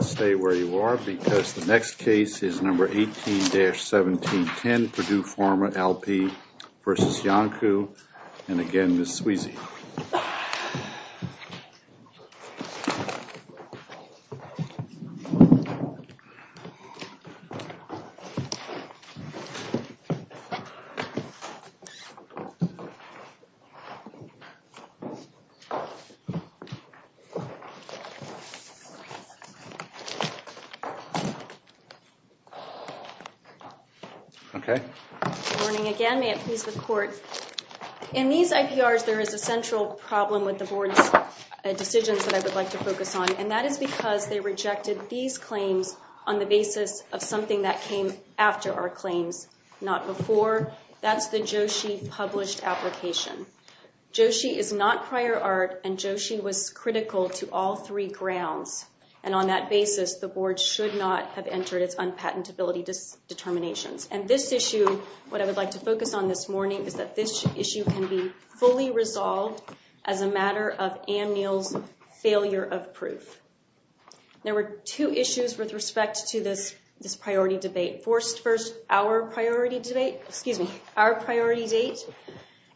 Stay where you are because the next case is No. 18-1710, Purdue Pharma L.P. v. Iancu. And again, Ms. Sweezy. In these IPRs, there is a central problem with the board's decisions that I would like to focus on. And that is because they rejected these claims on the basis of something that came after our claims, not before. Remember, that's the Joshi published application. Joshi is not prior art, and Joshi was critical to all three grounds. And on that basis, the board should not have entered its unpatentability determinations. And this issue, what I would like to focus on this morning, is that this issue can be fully resolved as a matter of Ann Neal's failure of proof. There were two issues with respect to this priority debate. First, our priority date.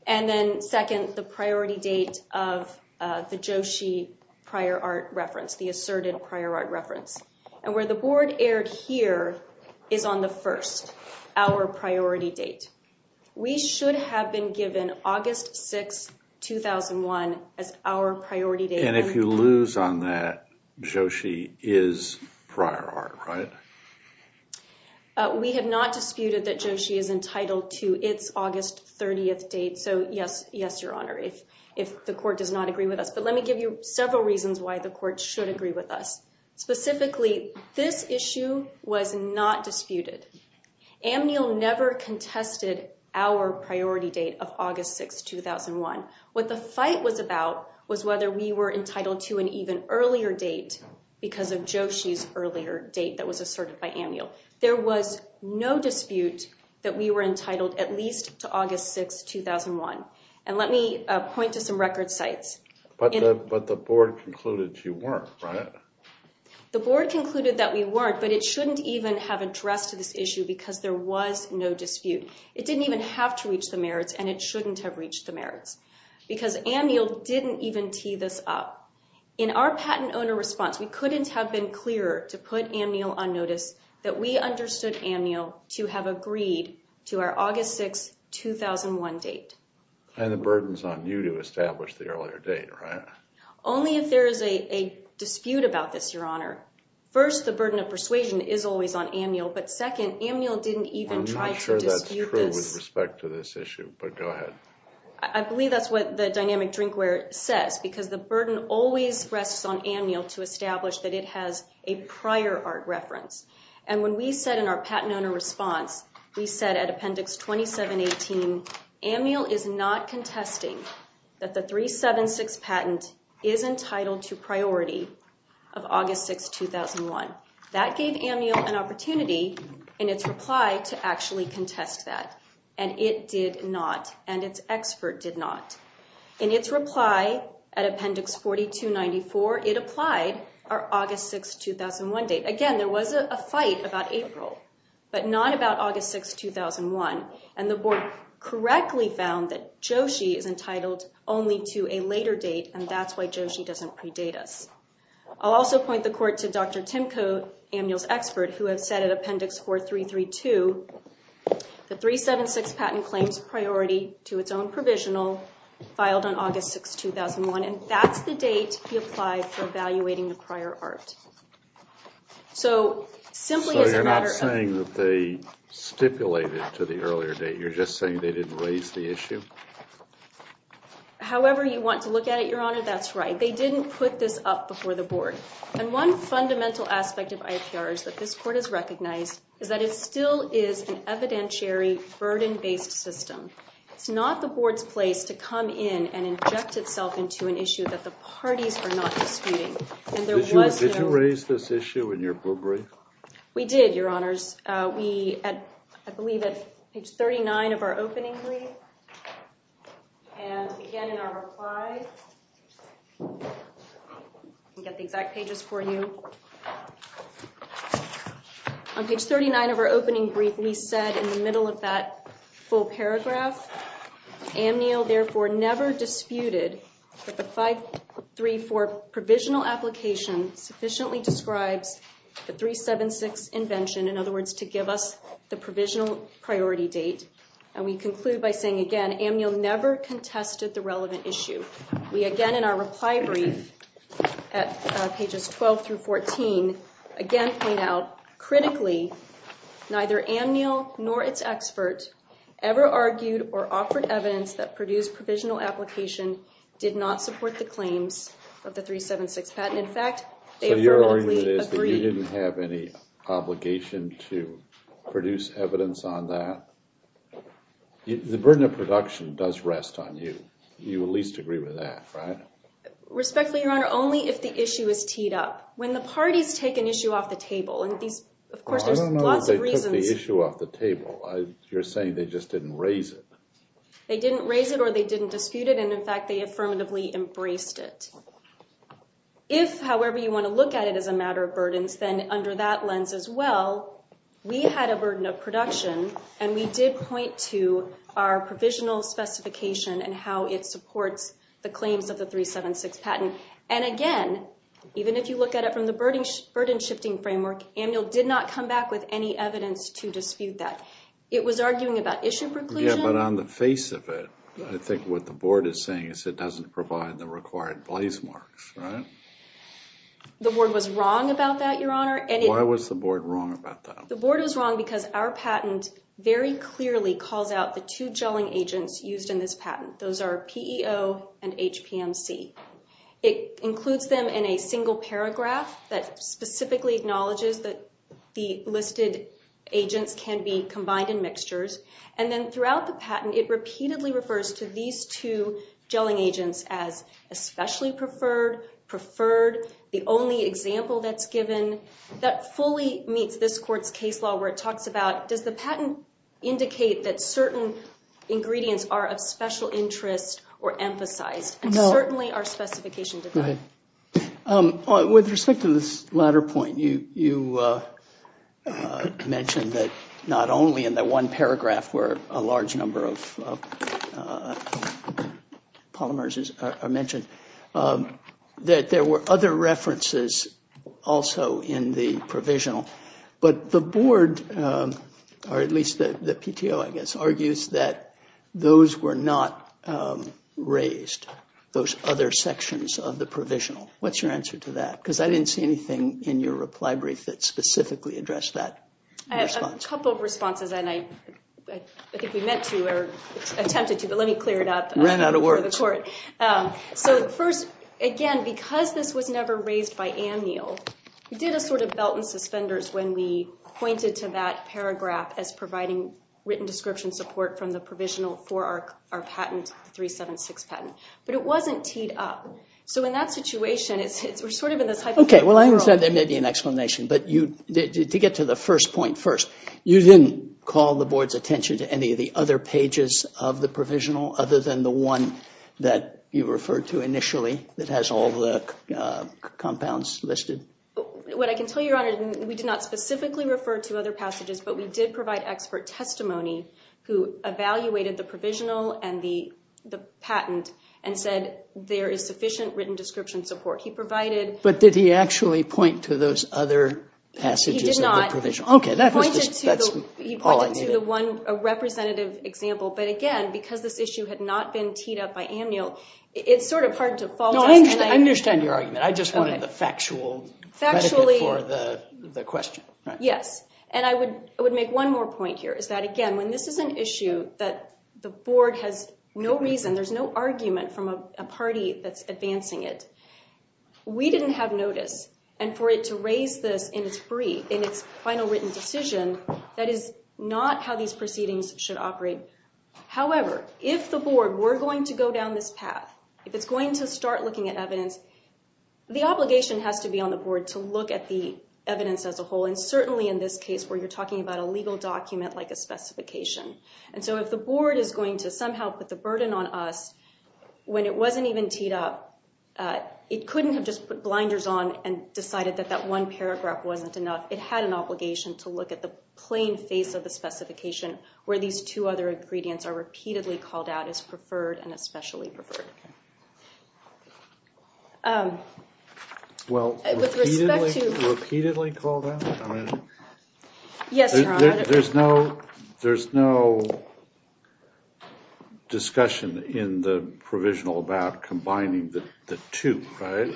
And then second, the priority date of the Joshi prior art reference, the asserted prior art reference. And where the board erred here is on the first, our priority date. We should have been given August 6, 2001 as our priority date. And if you lose on that, Joshi is prior art, right? We have not disputed that Joshi is entitled to its August 30th date. So yes, yes, Your Honor, if the court does not agree with us. But let me give you several reasons why the court should agree with us. Specifically, this issue was not disputed. Ann Neal never contested our priority date of August 6, 2001. What the fight was about was whether we were entitled to an even earlier date because of Joshi's earlier date that was asserted by Ann Neal. There was no dispute that we were entitled at least to August 6, 2001. And let me point to some record sites. But the board concluded you weren't, right? The board concluded that we weren't, but it shouldn't even have addressed this issue because there was no dispute. It didn't even have to reach the merits and it shouldn't have reached the merits because Ann Neal didn't even tee this up. In our patent owner response, we couldn't have been clearer to put Ann Neal on notice that we understood Ann Neal to have agreed to our August 6, 2001 date. And the burden's on you to establish the earlier date, right? Only if there is a dispute about this, Your Honor. First, the burden of persuasion is always on Ann Neal. But second, Ann Neal didn't even try to dispute this. I'm not sure that's true with respect to this issue, but go ahead. I believe that's what the dynamic drinkware says because the burden always rests on Ann Neal to establish that it has a prior art reference. And when we said in our patent owner response, we said at Appendix 2718, Ann Neal is not contesting that the 376 patent is entitled to priority of August 6, 2001. That gave Ann Neal an opportunity in its reply to actually contest that. And it did not. And its expert did not. In its reply at Appendix 4294, it applied our August 6, 2001 date. Again, there was a fight about April, but not about August 6, 2001. And the board correctly found that Joshi is entitled only to a later date, and that's why Joshi doesn't predate us. I'll also point the court to Dr. Tim Coe, Ann Neal's expert, who has said at Appendix 4332, the 376 patent claims priority to its own provisional, filed on August 6, 2001. And that's the date he applied for evaluating the prior art. So simply as a matter of... So you're not saying that they stipulated to the earlier date? You're just saying they didn't raise the issue? However you want to look at it, Your Honor, that's right. They didn't put this up before the board. And one fundamental aspect of IPRs that this court has recognized is that it still is an evidentiary, burden-based system. It's not the board's place to come in and inject itself into an issue that the parties are not disputing. And there was no... Did you raise this issue in your book brief? We did, Your Honors. I believe at page 39 of our opening brief. And again in our reply. I'll get the exact pages for you. On page 39 of our opening brief, we said in the middle of that full paragraph, Amnil therefore never disputed that the 534 provisional application sufficiently describes the 376 invention. In other words, to give us the provisional priority date. And we conclude by saying again, Amnil never contested the relevant issue. We again in our reply brief at pages 12 through 14, again point out, Critically, neither Amnil nor its expert ever argued or offered evidence that Purdue's provisional application did not support the claims of the 376 patent. In fact, they affirmatively agreed. So your argument is that you didn't have any obligation to produce evidence on that? The burden of production does rest on you. You at least agree with that, right? Respectfully, Your Honor, only if the issue is teed up. When the parties take an issue off the table, and of course there's lots of reasons. I don't know that they took the issue off the table. You're saying they just didn't raise it. They didn't raise it or they didn't dispute it. And in fact, they affirmatively embraced it. If, however, you want to look at it as a matter of burdens, then under that lens as well, we had a burden of production. And we did point to our provisional specification and how it supports the claims of the 376 patent. And again, even if you look at it from the burden shifting framework, Amnil did not come back with any evidence to dispute that. It was arguing about issue preclusion. Yeah, but on the face of it, I think what the board is saying is it doesn't provide the required place marks, right? The board was wrong about that, Your Honor. Why was the board wrong about that? The board was wrong because our patent very clearly calls out the two gelling agents used in this patent. Those are PEO and HPMC. It includes them in a single paragraph that specifically acknowledges that the listed agents can be combined in mixtures. And then throughout the patent, it repeatedly refers to these two gelling agents as especially preferred, preferred, the only example that's given. That fully meets this court's case law where it talks about, does the patent indicate that certain ingredients are of special interest or emphasized? And certainly our specification did not. Go ahead. With respect to this latter point, you mentioned that not only in that one paragraph were a large number of polymers mentioned, that there were other references also in the provisional. But the board, or at least the PTO, I guess, argues that those were not raised, those other sections of the provisional. What's your answer to that? Because I didn't see anything in your reply brief that specifically addressed that. I have a couple of responses, and I think we meant to or attempted to, but let me clear it up. So first, again, because this was never raised by Anne Neal, we did a sort of belt and suspenders when we pointed to that paragraph as providing written description support from the provisional for our patent, 376 patent. But it wasn't teed up. So in that situation, we're sort of in this hypothetical world. Okay, well, I understand there may be an explanation, but to get to the first point first, you didn't call the board's attention to any of the other pages of the provisional other than the one that you referred to initially that has all the compounds listed? What I can tell you, Your Honor, we did not specifically refer to other passages, but we did provide expert testimony who evaluated the provisional and the patent and said there is sufficient written description support. He provided— But did he actually point to those other passages of the provisional? Okay, that's all I need. He pointed to the one representative example, but again, because this issue had not been teed up by Anne Neal, it's sort of hard to fault us. No, I understand your argument. I just wanted the factual— Factually— —for the question. Yes, and I would make one more point here is that, again, when this is an issue that the board has no reason, there's no argument from a party that's advancing it, we didn't have notice. And for it to raise this in its final written decision, that is not how these proceedings should operate. However, if the board were going to go down this path, if it's going to start looking at evidence, the obligation has to be on the board to look at the evidence as a whole, and certainly in this case where you're talking about a legal document like a specification. And so if the board is going to somehow put the burden on us when it wasn't even teed up, it couldn't have just put blinders on and decided that that one paragraph wasn't enough. It had an obligation to look at the plain face of the specification where these two other ingredients are repeatedly called out as preferred and especially preferred. Well, with respect to— Repeatedly called out? Yes, Your Honor. There's no discussion in the provisional about combining the two, right?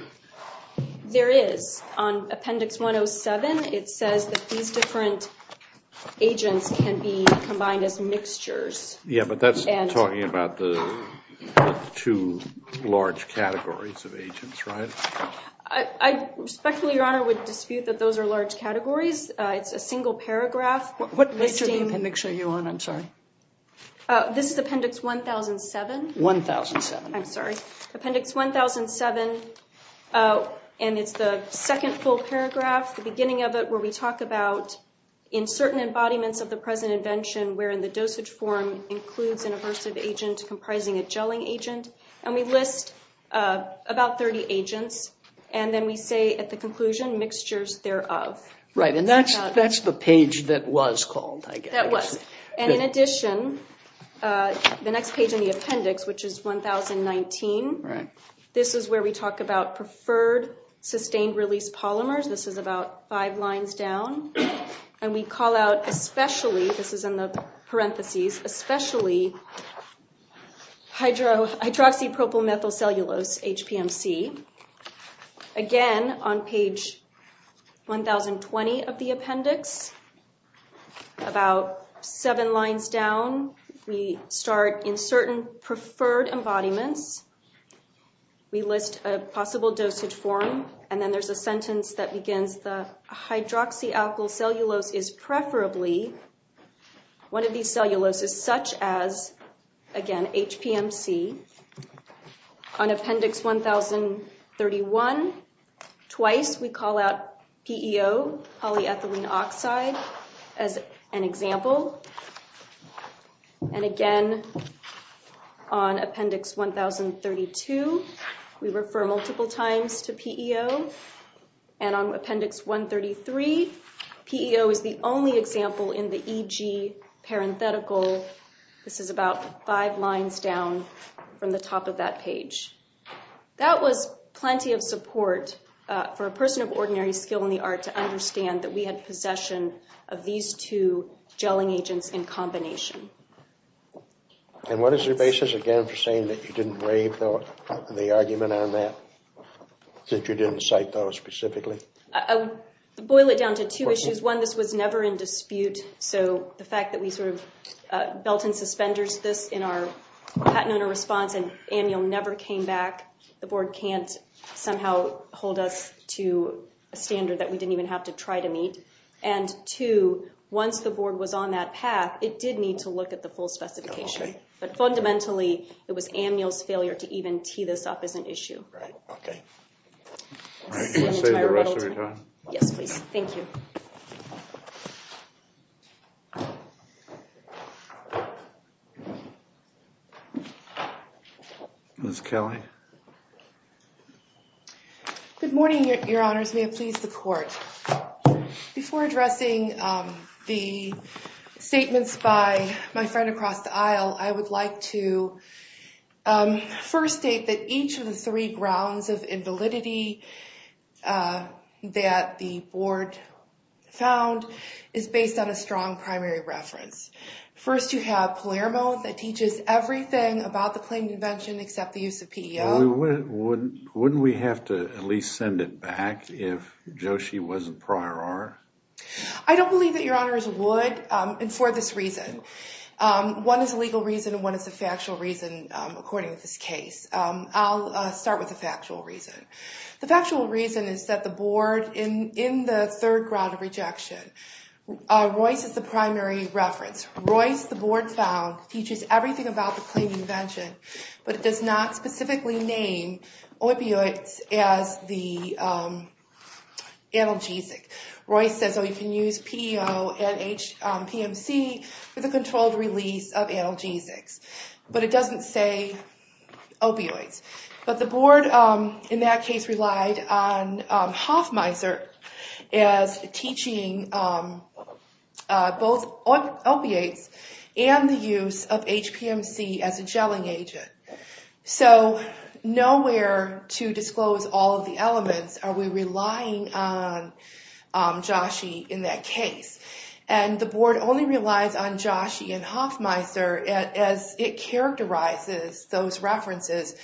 There is. On Appendix 107, it says that these different agents can be combined as mixtures. Yeah, but that's talking about the two large categories of agents, right? I respectfully, Your Honor, would dispute that those are large categories. It's a single paragraph. What mixture are you on? I'm sorry. This is Appendix 1007. 1007. I'm sorry. Appendix 1007, and it's the second full paragraph, the beginning of it, where we talk about in certain embodiments of the present invention wherein the dosage form includes an aversive agent comprising a gelling agent. And we list about 30 agents, and then we say at the conclusion, mixtures thereof. Right, and that's the page that was called, I guess. That was. And in addition, the next page in the appendix, which is 1019, this is where we talk about preferred sustained-release polymers. This is about five lines down. And we call out especially, this is in the parentheses, especially hydroxypropylmethylcellulose, HPMC. Again, on page 1020 of the appendix, about seven lines down, we start in certain preferred embodiments. We list a possible dosage form, and then there's a sentence that begins, the hydroxypropylmethylcellulose is preferably one of these celluloses such as, again, HPMC. On appendix 1031, twice we call out PEO, polyethylene oxide, as an example. And again, on appendix 1032, we refer multiple times to PEO. And on appendix 133, PEO is the only example in the EG parenthetical. This is about five lines down from the top of that page. That was plenty of support for a person of ordinary skill in the art to understand that we had possession of these two gelling agents in combination. And what is your basis, again, for saying that you didn't waive the argument on that, that you didn't cite those specifically? I would boil it down to two issues. One, this was never in dispute, so the fact that we sort of belt and suspenders this in our patent owner response and annual never came back, the board can't somehow hold us to a standard that we didn't even have to try to meet. And two, once the board was on that path, it did need to look at the full specification. But fundamentally, it was annual's failure to even tee this up as an issue. Okay. You want to say the rest of your time? Yes, please. Thank you. Ms. Kelly. Good morning, Your Honors. May it please the Court. Before addressing the statements by my friend across the aisle, I would like to first state that each of the three grounds of invalidity that the board found is based on a strong primary reference. First, you have Palermo that teaches everything about the claimed invention except the use of PEO. Wouldn't we have to at least send it back if JOSHI wasn't prior art? I don't believe that Your Honors would, and for this reason. One is a legal reason and one is a factual reason, according to this case. I'll start with the factual reason. The factual reason is that the board, in the third ground of rejection, Royce is the primary reference. Royce, the board found, teaches everything about the claimed invention, but it does not specifically name opioids as the analgesic. Royce says, oh, you can use PEO and PMC for the controlled release of analgesics, but it doesn't say opioids. But the board, in that case, relied on Hoffmeister as teaching both opiates and the use of HPMC as a gelling agent. So nowhere to disclose all of the elements are we relying on JOSHI in that case. And the board only relies on JOSHI and Hoffmeister as it characterizes those references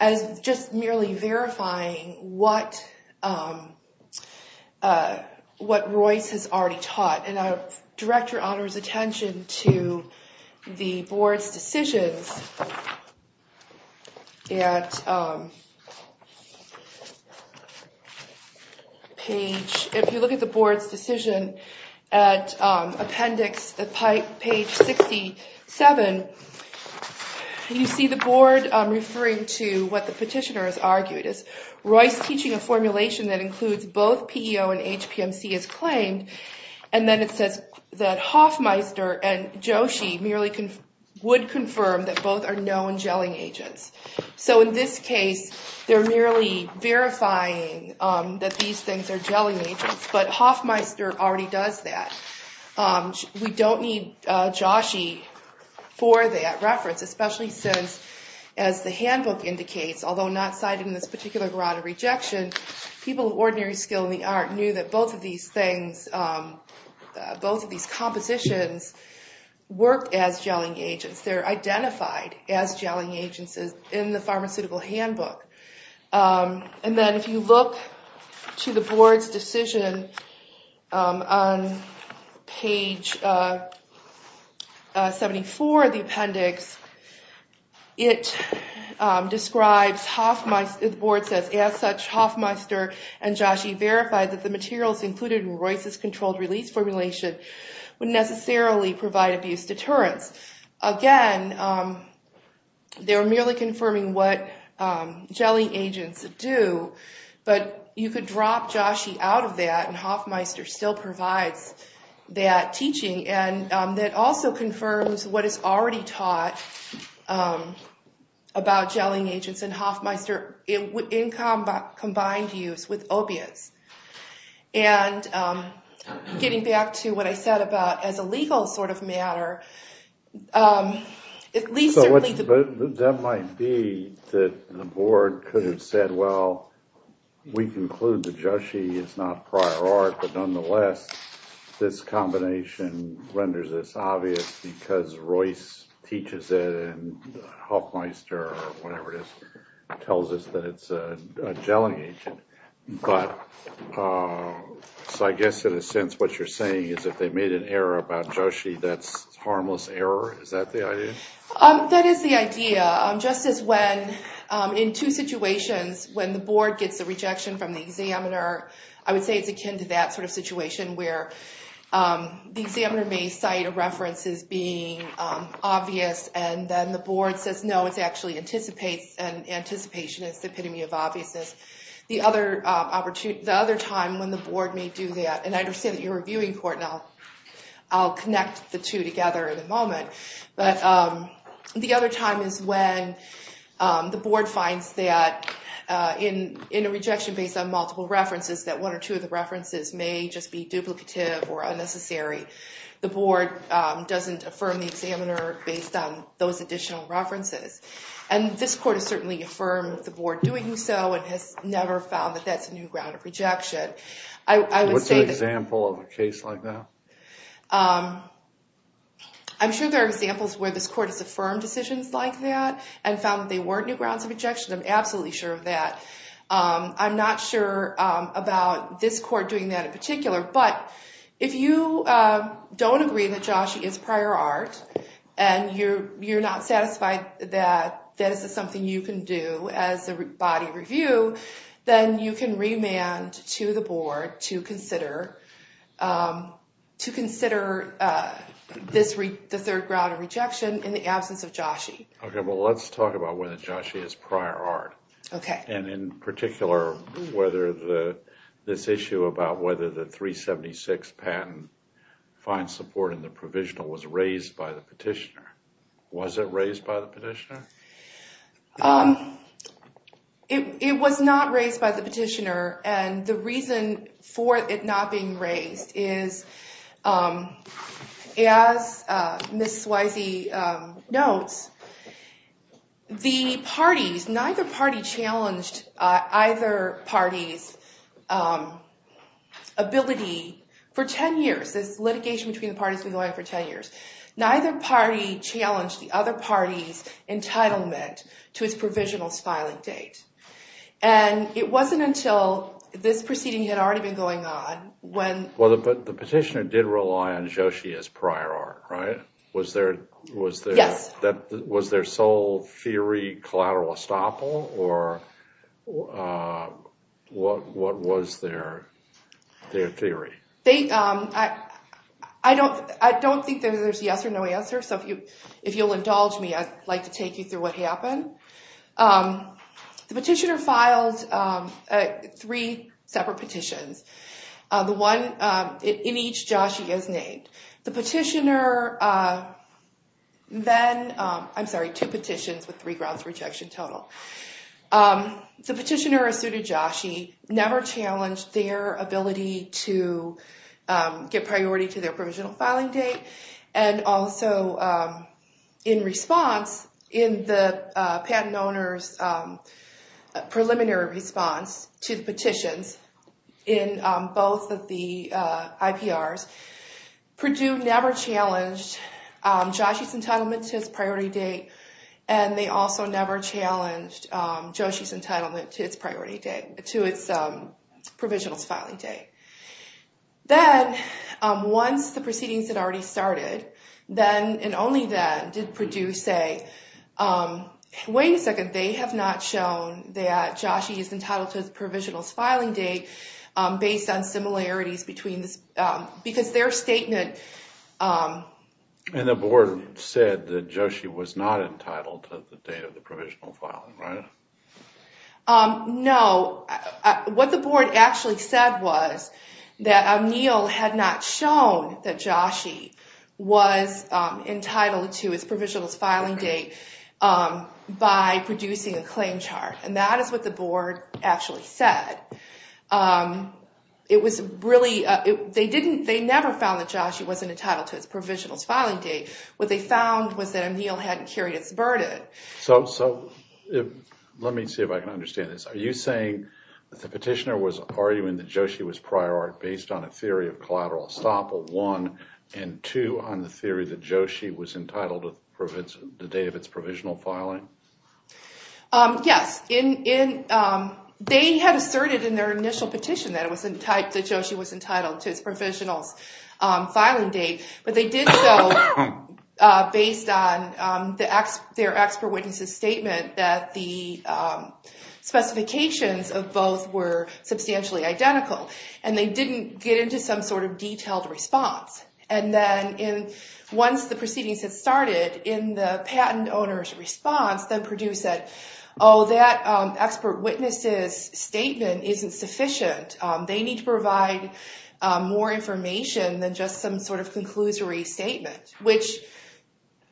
as just merely verifying what Royce has already taught. And I would direct Your Honors' attention to the board's decisions. If you look at the board's decision at appendix, page 67, you see the board referring to what the petitioner has argued. It's Royce teaching a formulation that includes both PEO and HPMC as claimed, and then it says that Hoffmeister and JOSHI merely would confirm that both are known gelling agents. So in this case, they're merely verifying that these things are gelling agents, but Hoffmeister already does that. We don't need JOSHI for that reference, especially since, as the handbook indicates, although not cited in this particular grata rejection, people of ordinary skill in the art knew that both of these things, both of these compositions worked as gelling agents. They're identified as gelling agents in the pharmaceutical handbook. And then if you look to the board's decision on page 74 of the appendix, it describes Hoffmeister, the board says, as such, Hoffmeister and JOSHI verified that the materials included in Royce's controlled release formulation would necessarily provide abuse deterrence. Again, they were merely confirming what gelling agents do, but you could drop JOSHI out of that, and Hoffmeister still provides that teaching. And that also confirms what is already taught about gelling agents and Hoffmeister in combined use with opiates. And getting back to what I said about as a legal sort of matter, at least certainly the board could have said, well, we conclude that JOSHI is not prior art, but nonetheless this combination renders this obvious because Royce teaches it and Hoffmeister, or whatever it is, tells us that it's a gelling agent. But, so I guess in a sense what you're saying is if they made an error about JOSHI, that's harmless error? Is that the idea? That is the idea. Just as when, in two situations, when the board gets a rejection from the examiner, I would say it's akin to that sort of situation where the examiner may cite a reference as being obvious, and then the board says, no, it's actually anticipation, it's the epitome of obviousness. The other time when the board may do that, and I understand that you're a viewing court, and I'll connect the two together in a moment, but the other time is when the board finds that in a rejection based on multiple references, that one or two of the references may just be duplicative or unnecessary. The board doesn't affirm the examiner based on those additional references. And this court has certainly affirmed the board doing so and has never found that that's a new ground of rejection. What's an example of a case like that? I'm sure there are examples where this court has affirmed decisions like that and found that they weren't new grounds of rejection. I'm absolutely sure of that. I'm not sure about this court doing that in particular, but if you don't agree that JOSHE is prior art and you're not satisfied that this is something you can do as a body review, then you can remand to the board to consider the third ground of rejection in the absence of JOSHE. Okay, well let's talk about whether JOSHE is prior art. Okay. And in particular, whether this issue about whether the 376 patent finds support in the provisional was raised by the petitioner. Was it raised by the petitioner? It was not raised by the petitioner, and the reason for it not being raised is, as Ms. Swayze notes, the parties, neither party challenged either party's ability for 10 years. This litigation between the parties has been going on for 10 years. Neither party challenged the other party's entitlement to its provisional's filing date. And it wasn't until this proceeding had already been going on when Well, but the petitioner did rely on JOSHE as prior art, right? Yes. Was there sole theory collateral estoppel, or what was their theory? I don't think there's a yes or no answer, so if you'll indulge me, I'd like to take you through what happened. The petitioner filed three separate petitions. The one in each JOSHE is named. The petitioner then, I'm sorry, two petitions with three grounds of rejection total. The petitioner, a suited JOSHE, never challenged their ability to get priority to their provisional filing date, and also in response, in the patent owner's preliminary response to the petitions in both of the IPRs, Purdue never challenged JOSHE's entitlement to its priority date, and they also never challenged JOSHE's entitlement to its provisional's filing date. Then, once the proceedings had already started, then and only then did Purdue say, wait a second, they have not shown that JOSHE is entitled to its provisional's filing date based on similarities between this, because their statement... And the board said that JOSHE was not entitled to the date of the provisional filing, right? No. What the board actually said was that O'Neill had not shown that JOSHE was entitled to its provisional's filing date by producing a claim chart, and that is what the board actually said. It was really... They never found that JOSHE wasn't entitled to its provisional's filing date. What they found was that O'Neill hadn't carried its burden. Let me see if I can understand this. Are you saying that the petitioner was arguing that JOSHE was prior art based on a theory of collateral estoppel, one, and two, on the theory that JOSHE was entitled to the date of its provisional filing? Yes. They had asserted in their initial petition that JOSHE was entitled to its provisional's filing date, but they did so based on their expert witness's statement that the specifications of both were substantially identical, and they didn't get into some sort of detailed response. And then once the proceedings had started, in the patent owner's response, then Purdue said, oh, that expert witness's statement isn't sufficient. They need to provide more information than just some sort of conclusory statement, which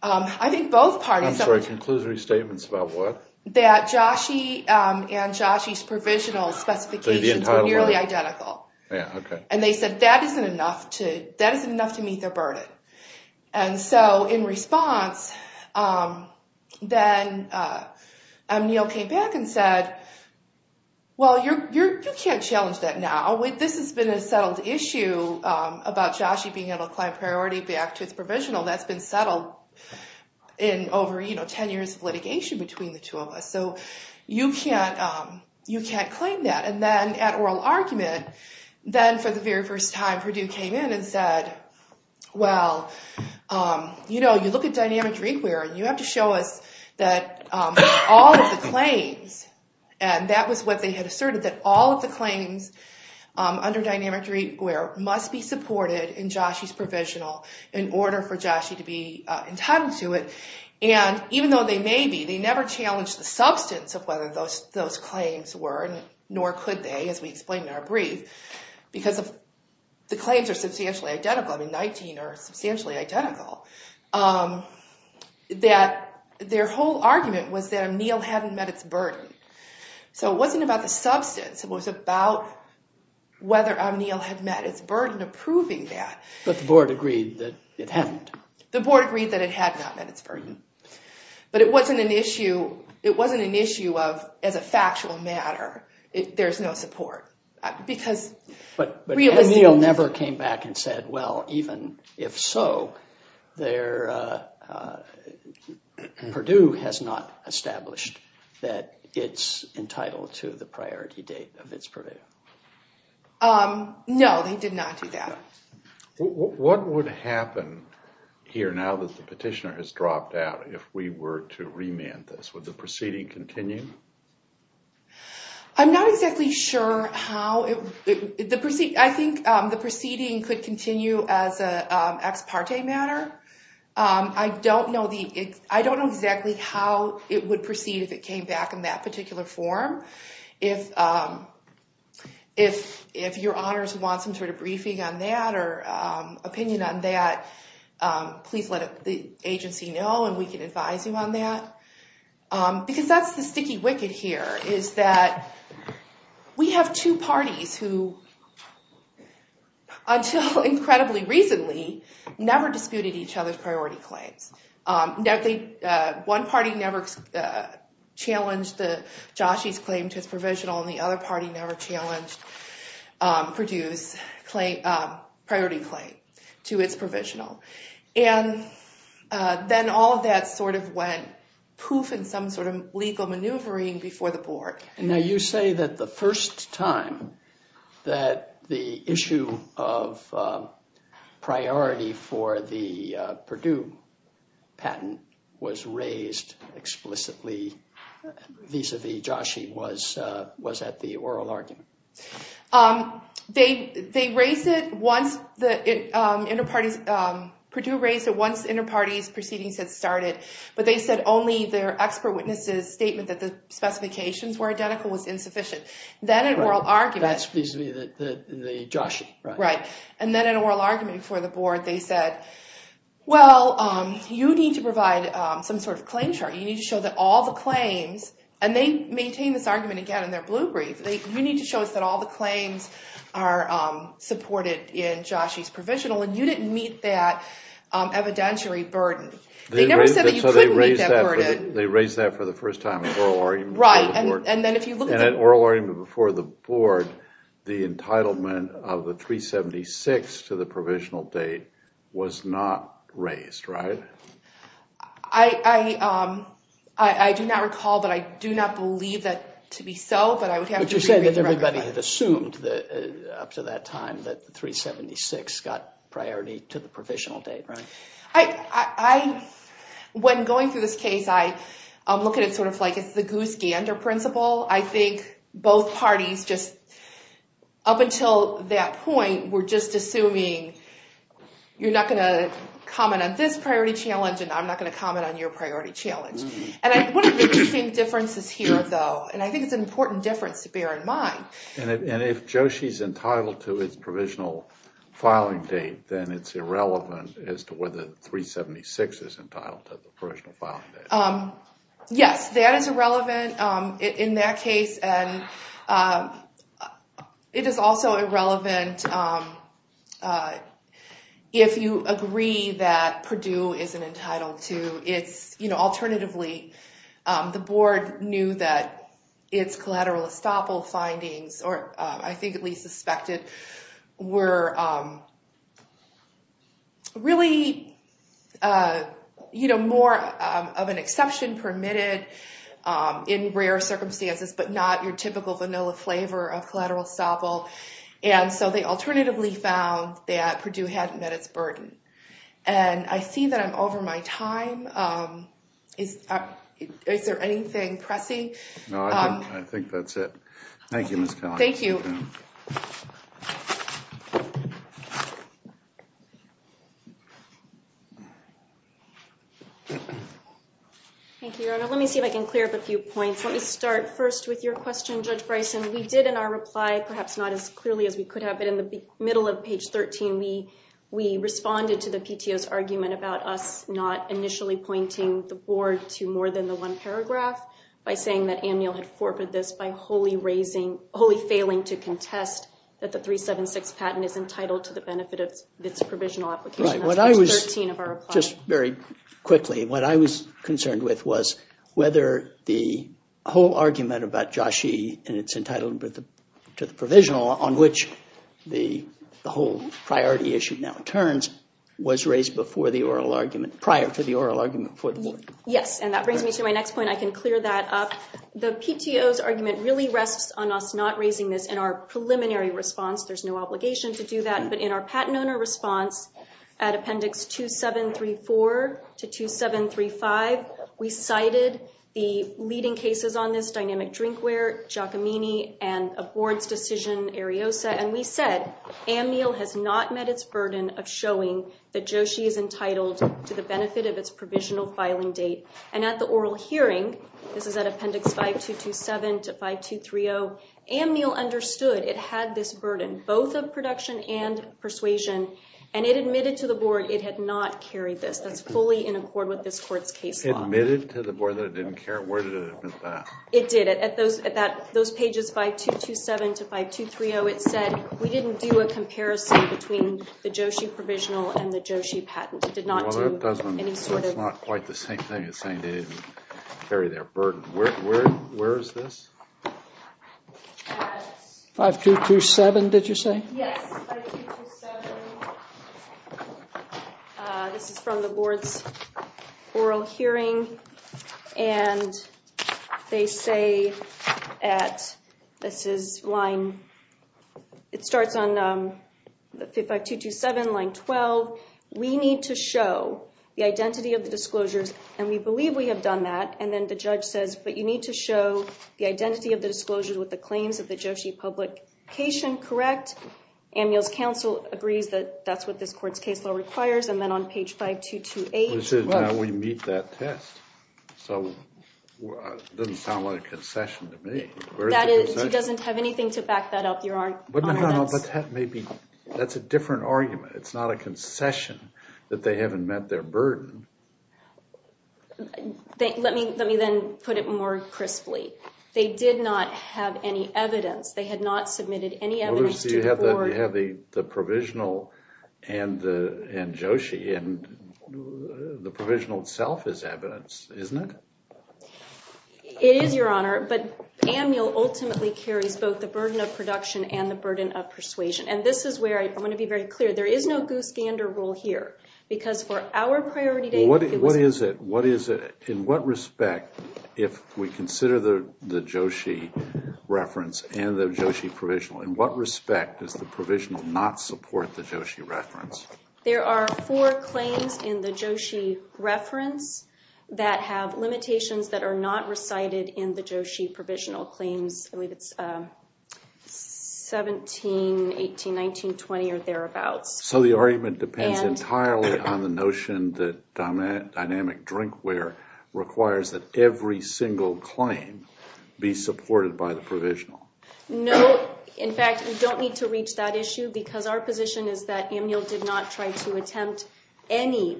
I think both parties... I'm sorry, conclusory statements about what? That JOSHE and JOSHE's provisional specifications were nearly identical. Yeah, okay. And they said that isn't enough to meet their burden. And so in response, then O'Neill came back and said, well, you can't challenge that now. This has been a settled issue about JOSHE being entitled to client priority back to its provisional. That's been settled in over 10 years of litigation between the two of us, so you can't claim that. And then at oral argument, then for the very first time, Purdue came in and said, well, you know, you look at dynamic drinkware, and you have to show us that all of the claims, and that was what they had asserted, that all of the claims under dynamic drinkware must be supported in JOSHE's provisional in order for JOSHE to be entitled to it. And even though they may be, they never challenged the substance of whether those claims were, nor could they, as we explained in our brief, because the claims are substantially identical. I mean, 19 are substantially identical. Their whole argument was that O'Neill hadn't met its burden. So it wasn't about the substance. It was about whether O'Neill had met its burden of proving that. But the board agreed that it hadn't. The board agreed that it had not met its burden. But it wasn't an issue of, as a factual matter, there's no support. But O'Neill never came back and said, well, even if so, Purdue has not established that it's entitled to the priority date of its purview. No, they did not do that. What would happen here now that the petitioner has dropped out, if we were to remand this? Would the proceeding continue? I'm not exactly sure how. I think the proceeding could continue as an ex parte matter. I don't know exactly how it would proceed if it came back in that particular form. If your honors want some sort of briefing on that or opinion on that, please let the agency know and we can advise you on that. Because that's the sticky wicket here. We have two parties who, until incredibly recently, never disputed each other's priority claims. One party never challenged Joshi's claim to its provisional, and the other party never challenged Purdue's priority claim to its provisional. Then all of that sort of went poof in some sort of legal maneuvering before the board. Now you say that the first time that the issue of priority for the Purdue patent was raised explicitly vis-a-vis Joshi was at the oral argument. They raised it once the inter-parties, Purdue raised it once the inter-parties proceedings had started, but they said only their expert witnesses' statement that the specifications were identical was insufficient. That's supposed to be the Joshi. Right. And then at an oral argument before the board, they said, well, you need to provide some sort of claim chart. You need to show that all the claims, and they maintain this argument again in their blue brief, you need to show us that all the claims are supported in Joshi's provisional, and you didn't meet that evidentiary burden. They never said that you couldn't meet that burden. They raised that for the first time at oral argument before the board. Right, and then if you look at that. At oral argument before the board, the entitlement of the 376 to the provisional date was not raised, right? I do not recall, but I do not believe that to be so, but I would have to reread the record. But you're saying that everybody had assumed up to that time that 376 got priority to the provisional date, right? When going through this case, I look at it sort of like it's the goose gander principle. I think both parties just up until that point were just assuming you're not going to comment on this priority challenge and I'm not going to comment on your priority challenge. And one of the interesting differences here, though, and I think it's an important difference to bear in mind. And if Joshi's entitled to his provisional filing date, then it's irrelevant as to whether 376 is entitled to the provisional filing date. Yes, that is irrelevant in that case, and it is also irrelevant if you agree that Purdue isn't entitled to its, you know, alternatively, the board knew that its collateral estoppel findings, or I think at least suspected, were really, you know, more of an exception permitted in rare circumstances, but not your typical vanilla flavor of collateral estoppel. And so they alternatively found that Purdue hadn't met its burden. And I see that I'm over my time. Is there anything pressing? No, I think that's it. Thank you, Ms. Collins. Thank you. Thank you, Your Honor. Let me see if I can clear up a few points. Let me start first with your question, Judge Bryson. We did in our reply, perhaps not as clearly as we could have, but in the middle of page 13, we responded to the PTO's argument about us not initially pointing the board to more than the one paragraph, by saying that Anne Neal had forfeited this by wholly failing to contest that the 376 patent is entitled to the benefit of its provisional application. That's page 13 of our reply. Right. Just very quickly, what I was concerned with was whether the whole argument about JASHE and its entitlement to the provisional, on which the whole priority issue now turns, was raised prior to the oral argument for the board. Yes. And that brings me to my next point. I can clear that up. The PTO's argument really rests on us not raising this in our preliminary response. There's no obligation to do that. But in our patent owner response at appendix 2734 to 2735, we cited the leading cases on this, Dynamic Drinkware, Giacomini, and a board's decision, Ariosa, and we said Anne Neal has not met its burden of showing that JASHE is entitled to the benefit of its provisional filing date. And at the oral hearing, this is at appendix 5227 to 5230, Anne Neal understood it had this burden, both of production and persuasion, and it admitted to the board it had not carried this. That's fully in accord with this court's case law. Admitted to the board that it didn't care? Where did it admit that? It did. At those pages 5227 to 5230, it said, we didn't do a comparison between the JASHE provisional and the JASHE patent. It did not do any sort of. Well, that's not quite the same thing as saying they didn't carry their burden. Where is this? 5227, did you say? Yes, 5227. This is from the board's oral hearing, and they say at, this is line, it starts on 5227, line 12, we need to show the identity of the disclosures, and we believe we have done that. And then the judge says, but you need to show the identity of the disclosures with the claims of the JASHE publication, correct? Amul's counsel agrees that that's what this court's case law requires, and then on page 5228. Now we meet that test. So it doesn't sound like a concession to me. That is, she doesn't have anything to back that up, Your Honor. But that may be, that's a different argument. It's not a concession that they haven't met their burden. Let me then put it more crisply. They did not have any evidence. They had not submitted any evidence to the board. You have the provisional and JASHE, and the provisional itself is evidence, isn't it? It is, Your Honor, but Amul ultimately carries both the burden of production and the burden of persuasion. And this is where I want to be very clear. There is no goose gander rule here, because for our priority date. What is it? In what respect, if we consider the JASHE reference and the JASHE provisional, in what respect does the provisional not support the JASHE reference? There are four claims in the JASHE reference that have limitations that are not recited in the JASHE provisional claims. I believe it's 17, 18, 19, 20 or thereabouts. So the argument depends entirely on the notion that dynamic drinkware requires that every single claim be supported by the provisional. No. In fact, you don't need to reach that issue because our position is that Amul did not try to attempt any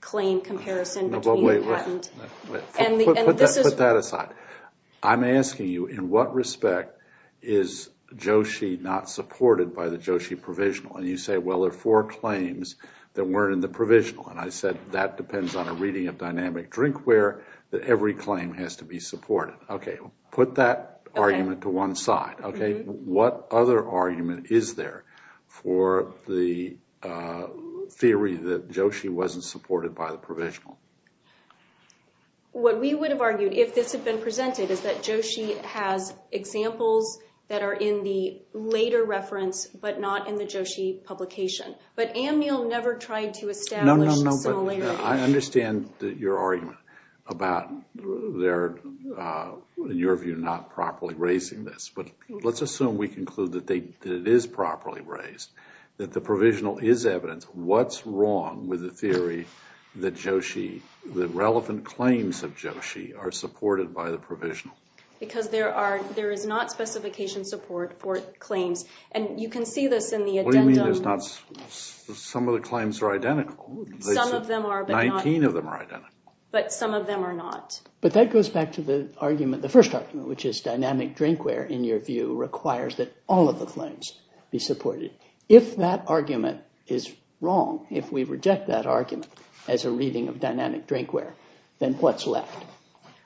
claim comparison between the patent. Put that aside. I'm asking you, in what respect is JASHE not supported by the JASHE provisional? And you say, well, there are four claims that weren't in the provisional. And I said, that depends on a reading of dynamic drinkware that every claim has to be supported. Okay. Put that argument to one side. Okay. What other argument is there for the theory that JASHE wasn't supported by the provisional? What we would have argued if this had been presented is that JASHE has examples that are in the later reference, but not in the JASHE publication. But Amul never tried to establish similarity. No, no, no. I understand your argument about their, in your view, not properly raising this, but let's assume we conclude that it is properly raised, that the provisional is evidence. What's wrong with the theory that JASHE, the relevant claims of JASHE are supported by the provisional? Because there are, there is not specification support for claims. And you can see this in the addendum. What do you mean there's not, some of the claims are identical. Some of them are, but not. 19 of them are identical. But some of them are not. But that goes back to the argument, the first argument, which is dynamic drinkware, in your view, requires that all of the claims be supported. If that argument is wrong, if we reject that argument as a reading of dynamic drinkware, then what's left?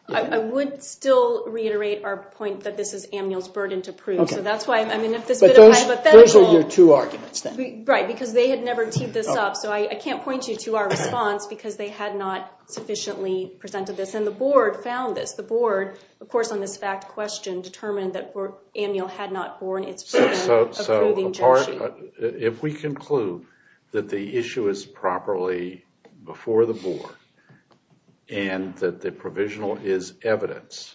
I would still reiterate our point that this is Amniel's burden to prove. So that's why, I mean, if this bit of hypothetical. Those are your two arguments then. Right, because they had never teed this up. So I can't point you to our response because they had not sufficiently presented this. And the board found this. The board, of course, on this fact question, determined that Amniel had not borne its burden of proving JASHE. If we conclude that the issue is properly, before the board, and that the provisional is evidence,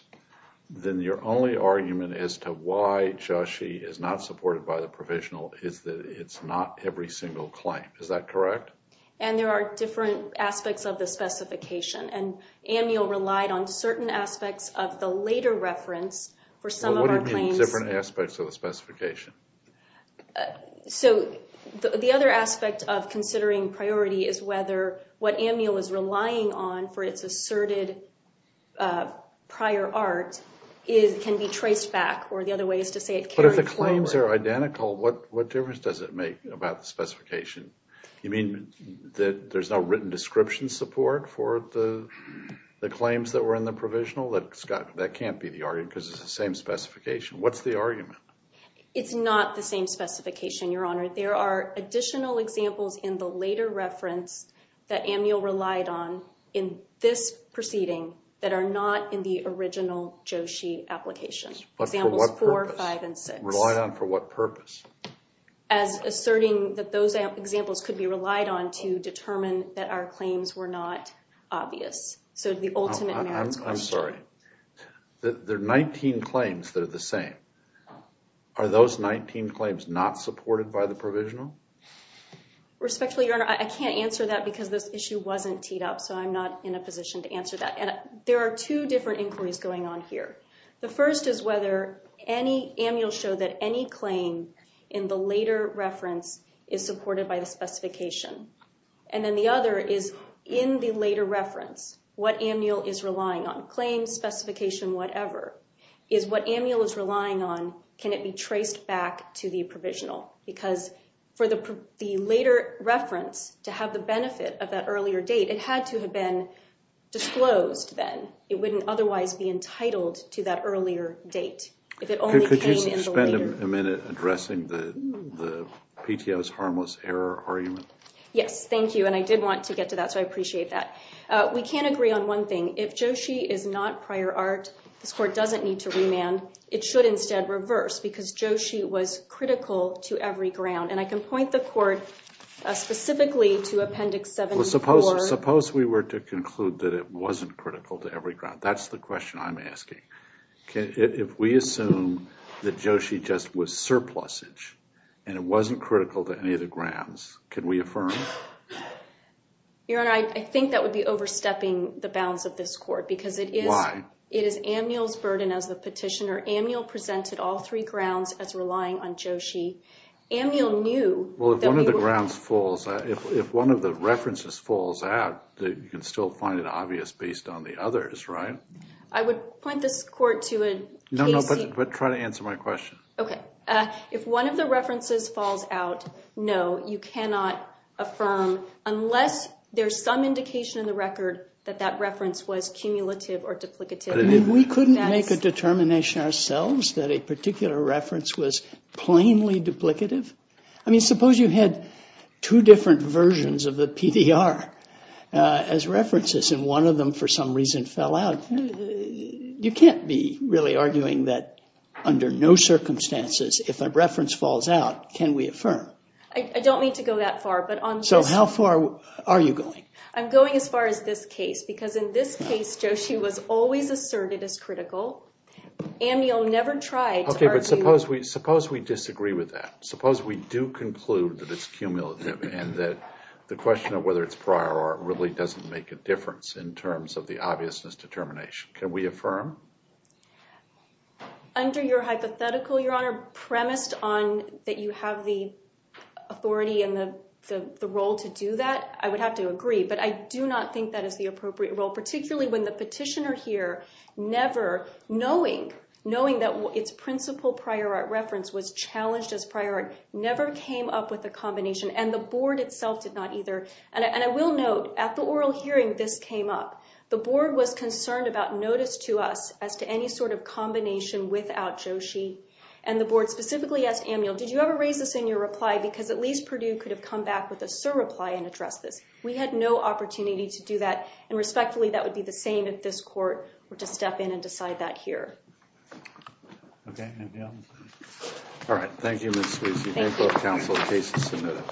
then your only argument as to why JASHE is not supported by the provisional is that it's not every single claim. Is that correct? And there are different aspects of the specification. And Amniel relied on certain aspects of the later reference for some of our claims. What do you mean, different aspects of the specification? So the other aspect of considering priority is whether what Amniel is relying on for its asserted prior art can be traced back. Or the other way is to say it carried forward. But if the claims are identical, what difference does it make about the specification? You mean that there's no written description support for the claims that were in the provisional? That can't be the argument because it's the same specification. What's the argument? It's not the same specification, Your Honor. There are additional examples in the later reference that Amniel relied on in this proceeding that are not in the original JASHE application. But for what purpose? Examples four, five, and six. Rely on for what purpose? As asserting that those examples could be relied on to determine that our claims were not obvious. So the ultimate merits question. I'm sorry. There are 19 claims that are the same. Are those 19 claims not supported by the provisional? Respectfully, Your Honor. I can't answer that because this issue wasn't teed up. So I'm not in a position to answer that. And there are two different inquiries going on here. The first is whether Amniel showed that any claim in the later reference is supported by the specification. And then the other is in the later reference, what Amniel is relying on. Claims, specification, whatever. Is what Amniel is relying on, can it be traced back to the provisional? Because for the later reference to have the benefit of that earlier date, it had to have been disclosed then. It wouldn't otherwise be entitled to that earlier date. Could you spend a minute addressing the PTO's harmless error argument? Yes, thank you. And I did want to get to that, so I appreciate that. We can agree on one thing. If Joshi is not prior art, this court doesn't need to remand. It should instead reverse, because Joshi was critical to every ground. And I can point the court specifically to Appendix 74. Well, suppose we were to conclude that it wasn't critical to every ground. That's the question I'm asking. If we assume that Joshi just was surplusage and it wasn't critical to any of the grounds, can we affirm? Your Honor, I think that would be overstepping the bounds of this court. Why? Because it is Amniel's burden as the petitioner. Amniel presented all three grounds as relying on Joshi. Amniel knew that we were- Well, if one of the grounds falls, if one of the references falls out, you can still find it obvious based on the others, right? I would point this court to a case- No, no, but try to answer my question. Okay. If one of the references falls out, no, you cannot affirm, unless there's some indication in the record that that reference was cumulative or duplicative. We couldn't make a determination ourselves that a particular reference was plainly duplicative? I mean, suppose you had two different versions of the PDR as references and one of them for some reason fell out. You can't be really arguing that under no circumstances, if a reference falls out, can we affirm? I don't mean to go that far, but on just- So how far are you going? I'm going as far as this case, because in this case, Joshi was always asserted as critical. Amniel never tried to argue- Okay, but suppose we disagree with that. Suppose we do conclude that it's cumulative and that the question of whether it's prior or it really doesn't make a difference in terms of the obviousness determination. Can we affirm? Under your hypothetical, Your Honor, premised on that you have the authority and the role to do that, I would have to agree, but I do not think that is the appropriate role, particularly when the petitioner here never, knowing that its principal prior art reference was challenged as prior art, never came up with a combination and the Board itself did not either. And I will note, at the oral hearing, this came up. The Board was concerned about notice to us as to any sort of combination without Joshi and the Board specifically asked Amniel, did you ever raise this in your reply because at least Purdue could have come back with a surreply and addressed this. We had no opportunity to do that and respectfully, that would be the same if this court were to step in and decide that here. Okay, Amniel. All right, thank you, Ms. Sweezy. Thank you. Thank both counsel. The case is submitted.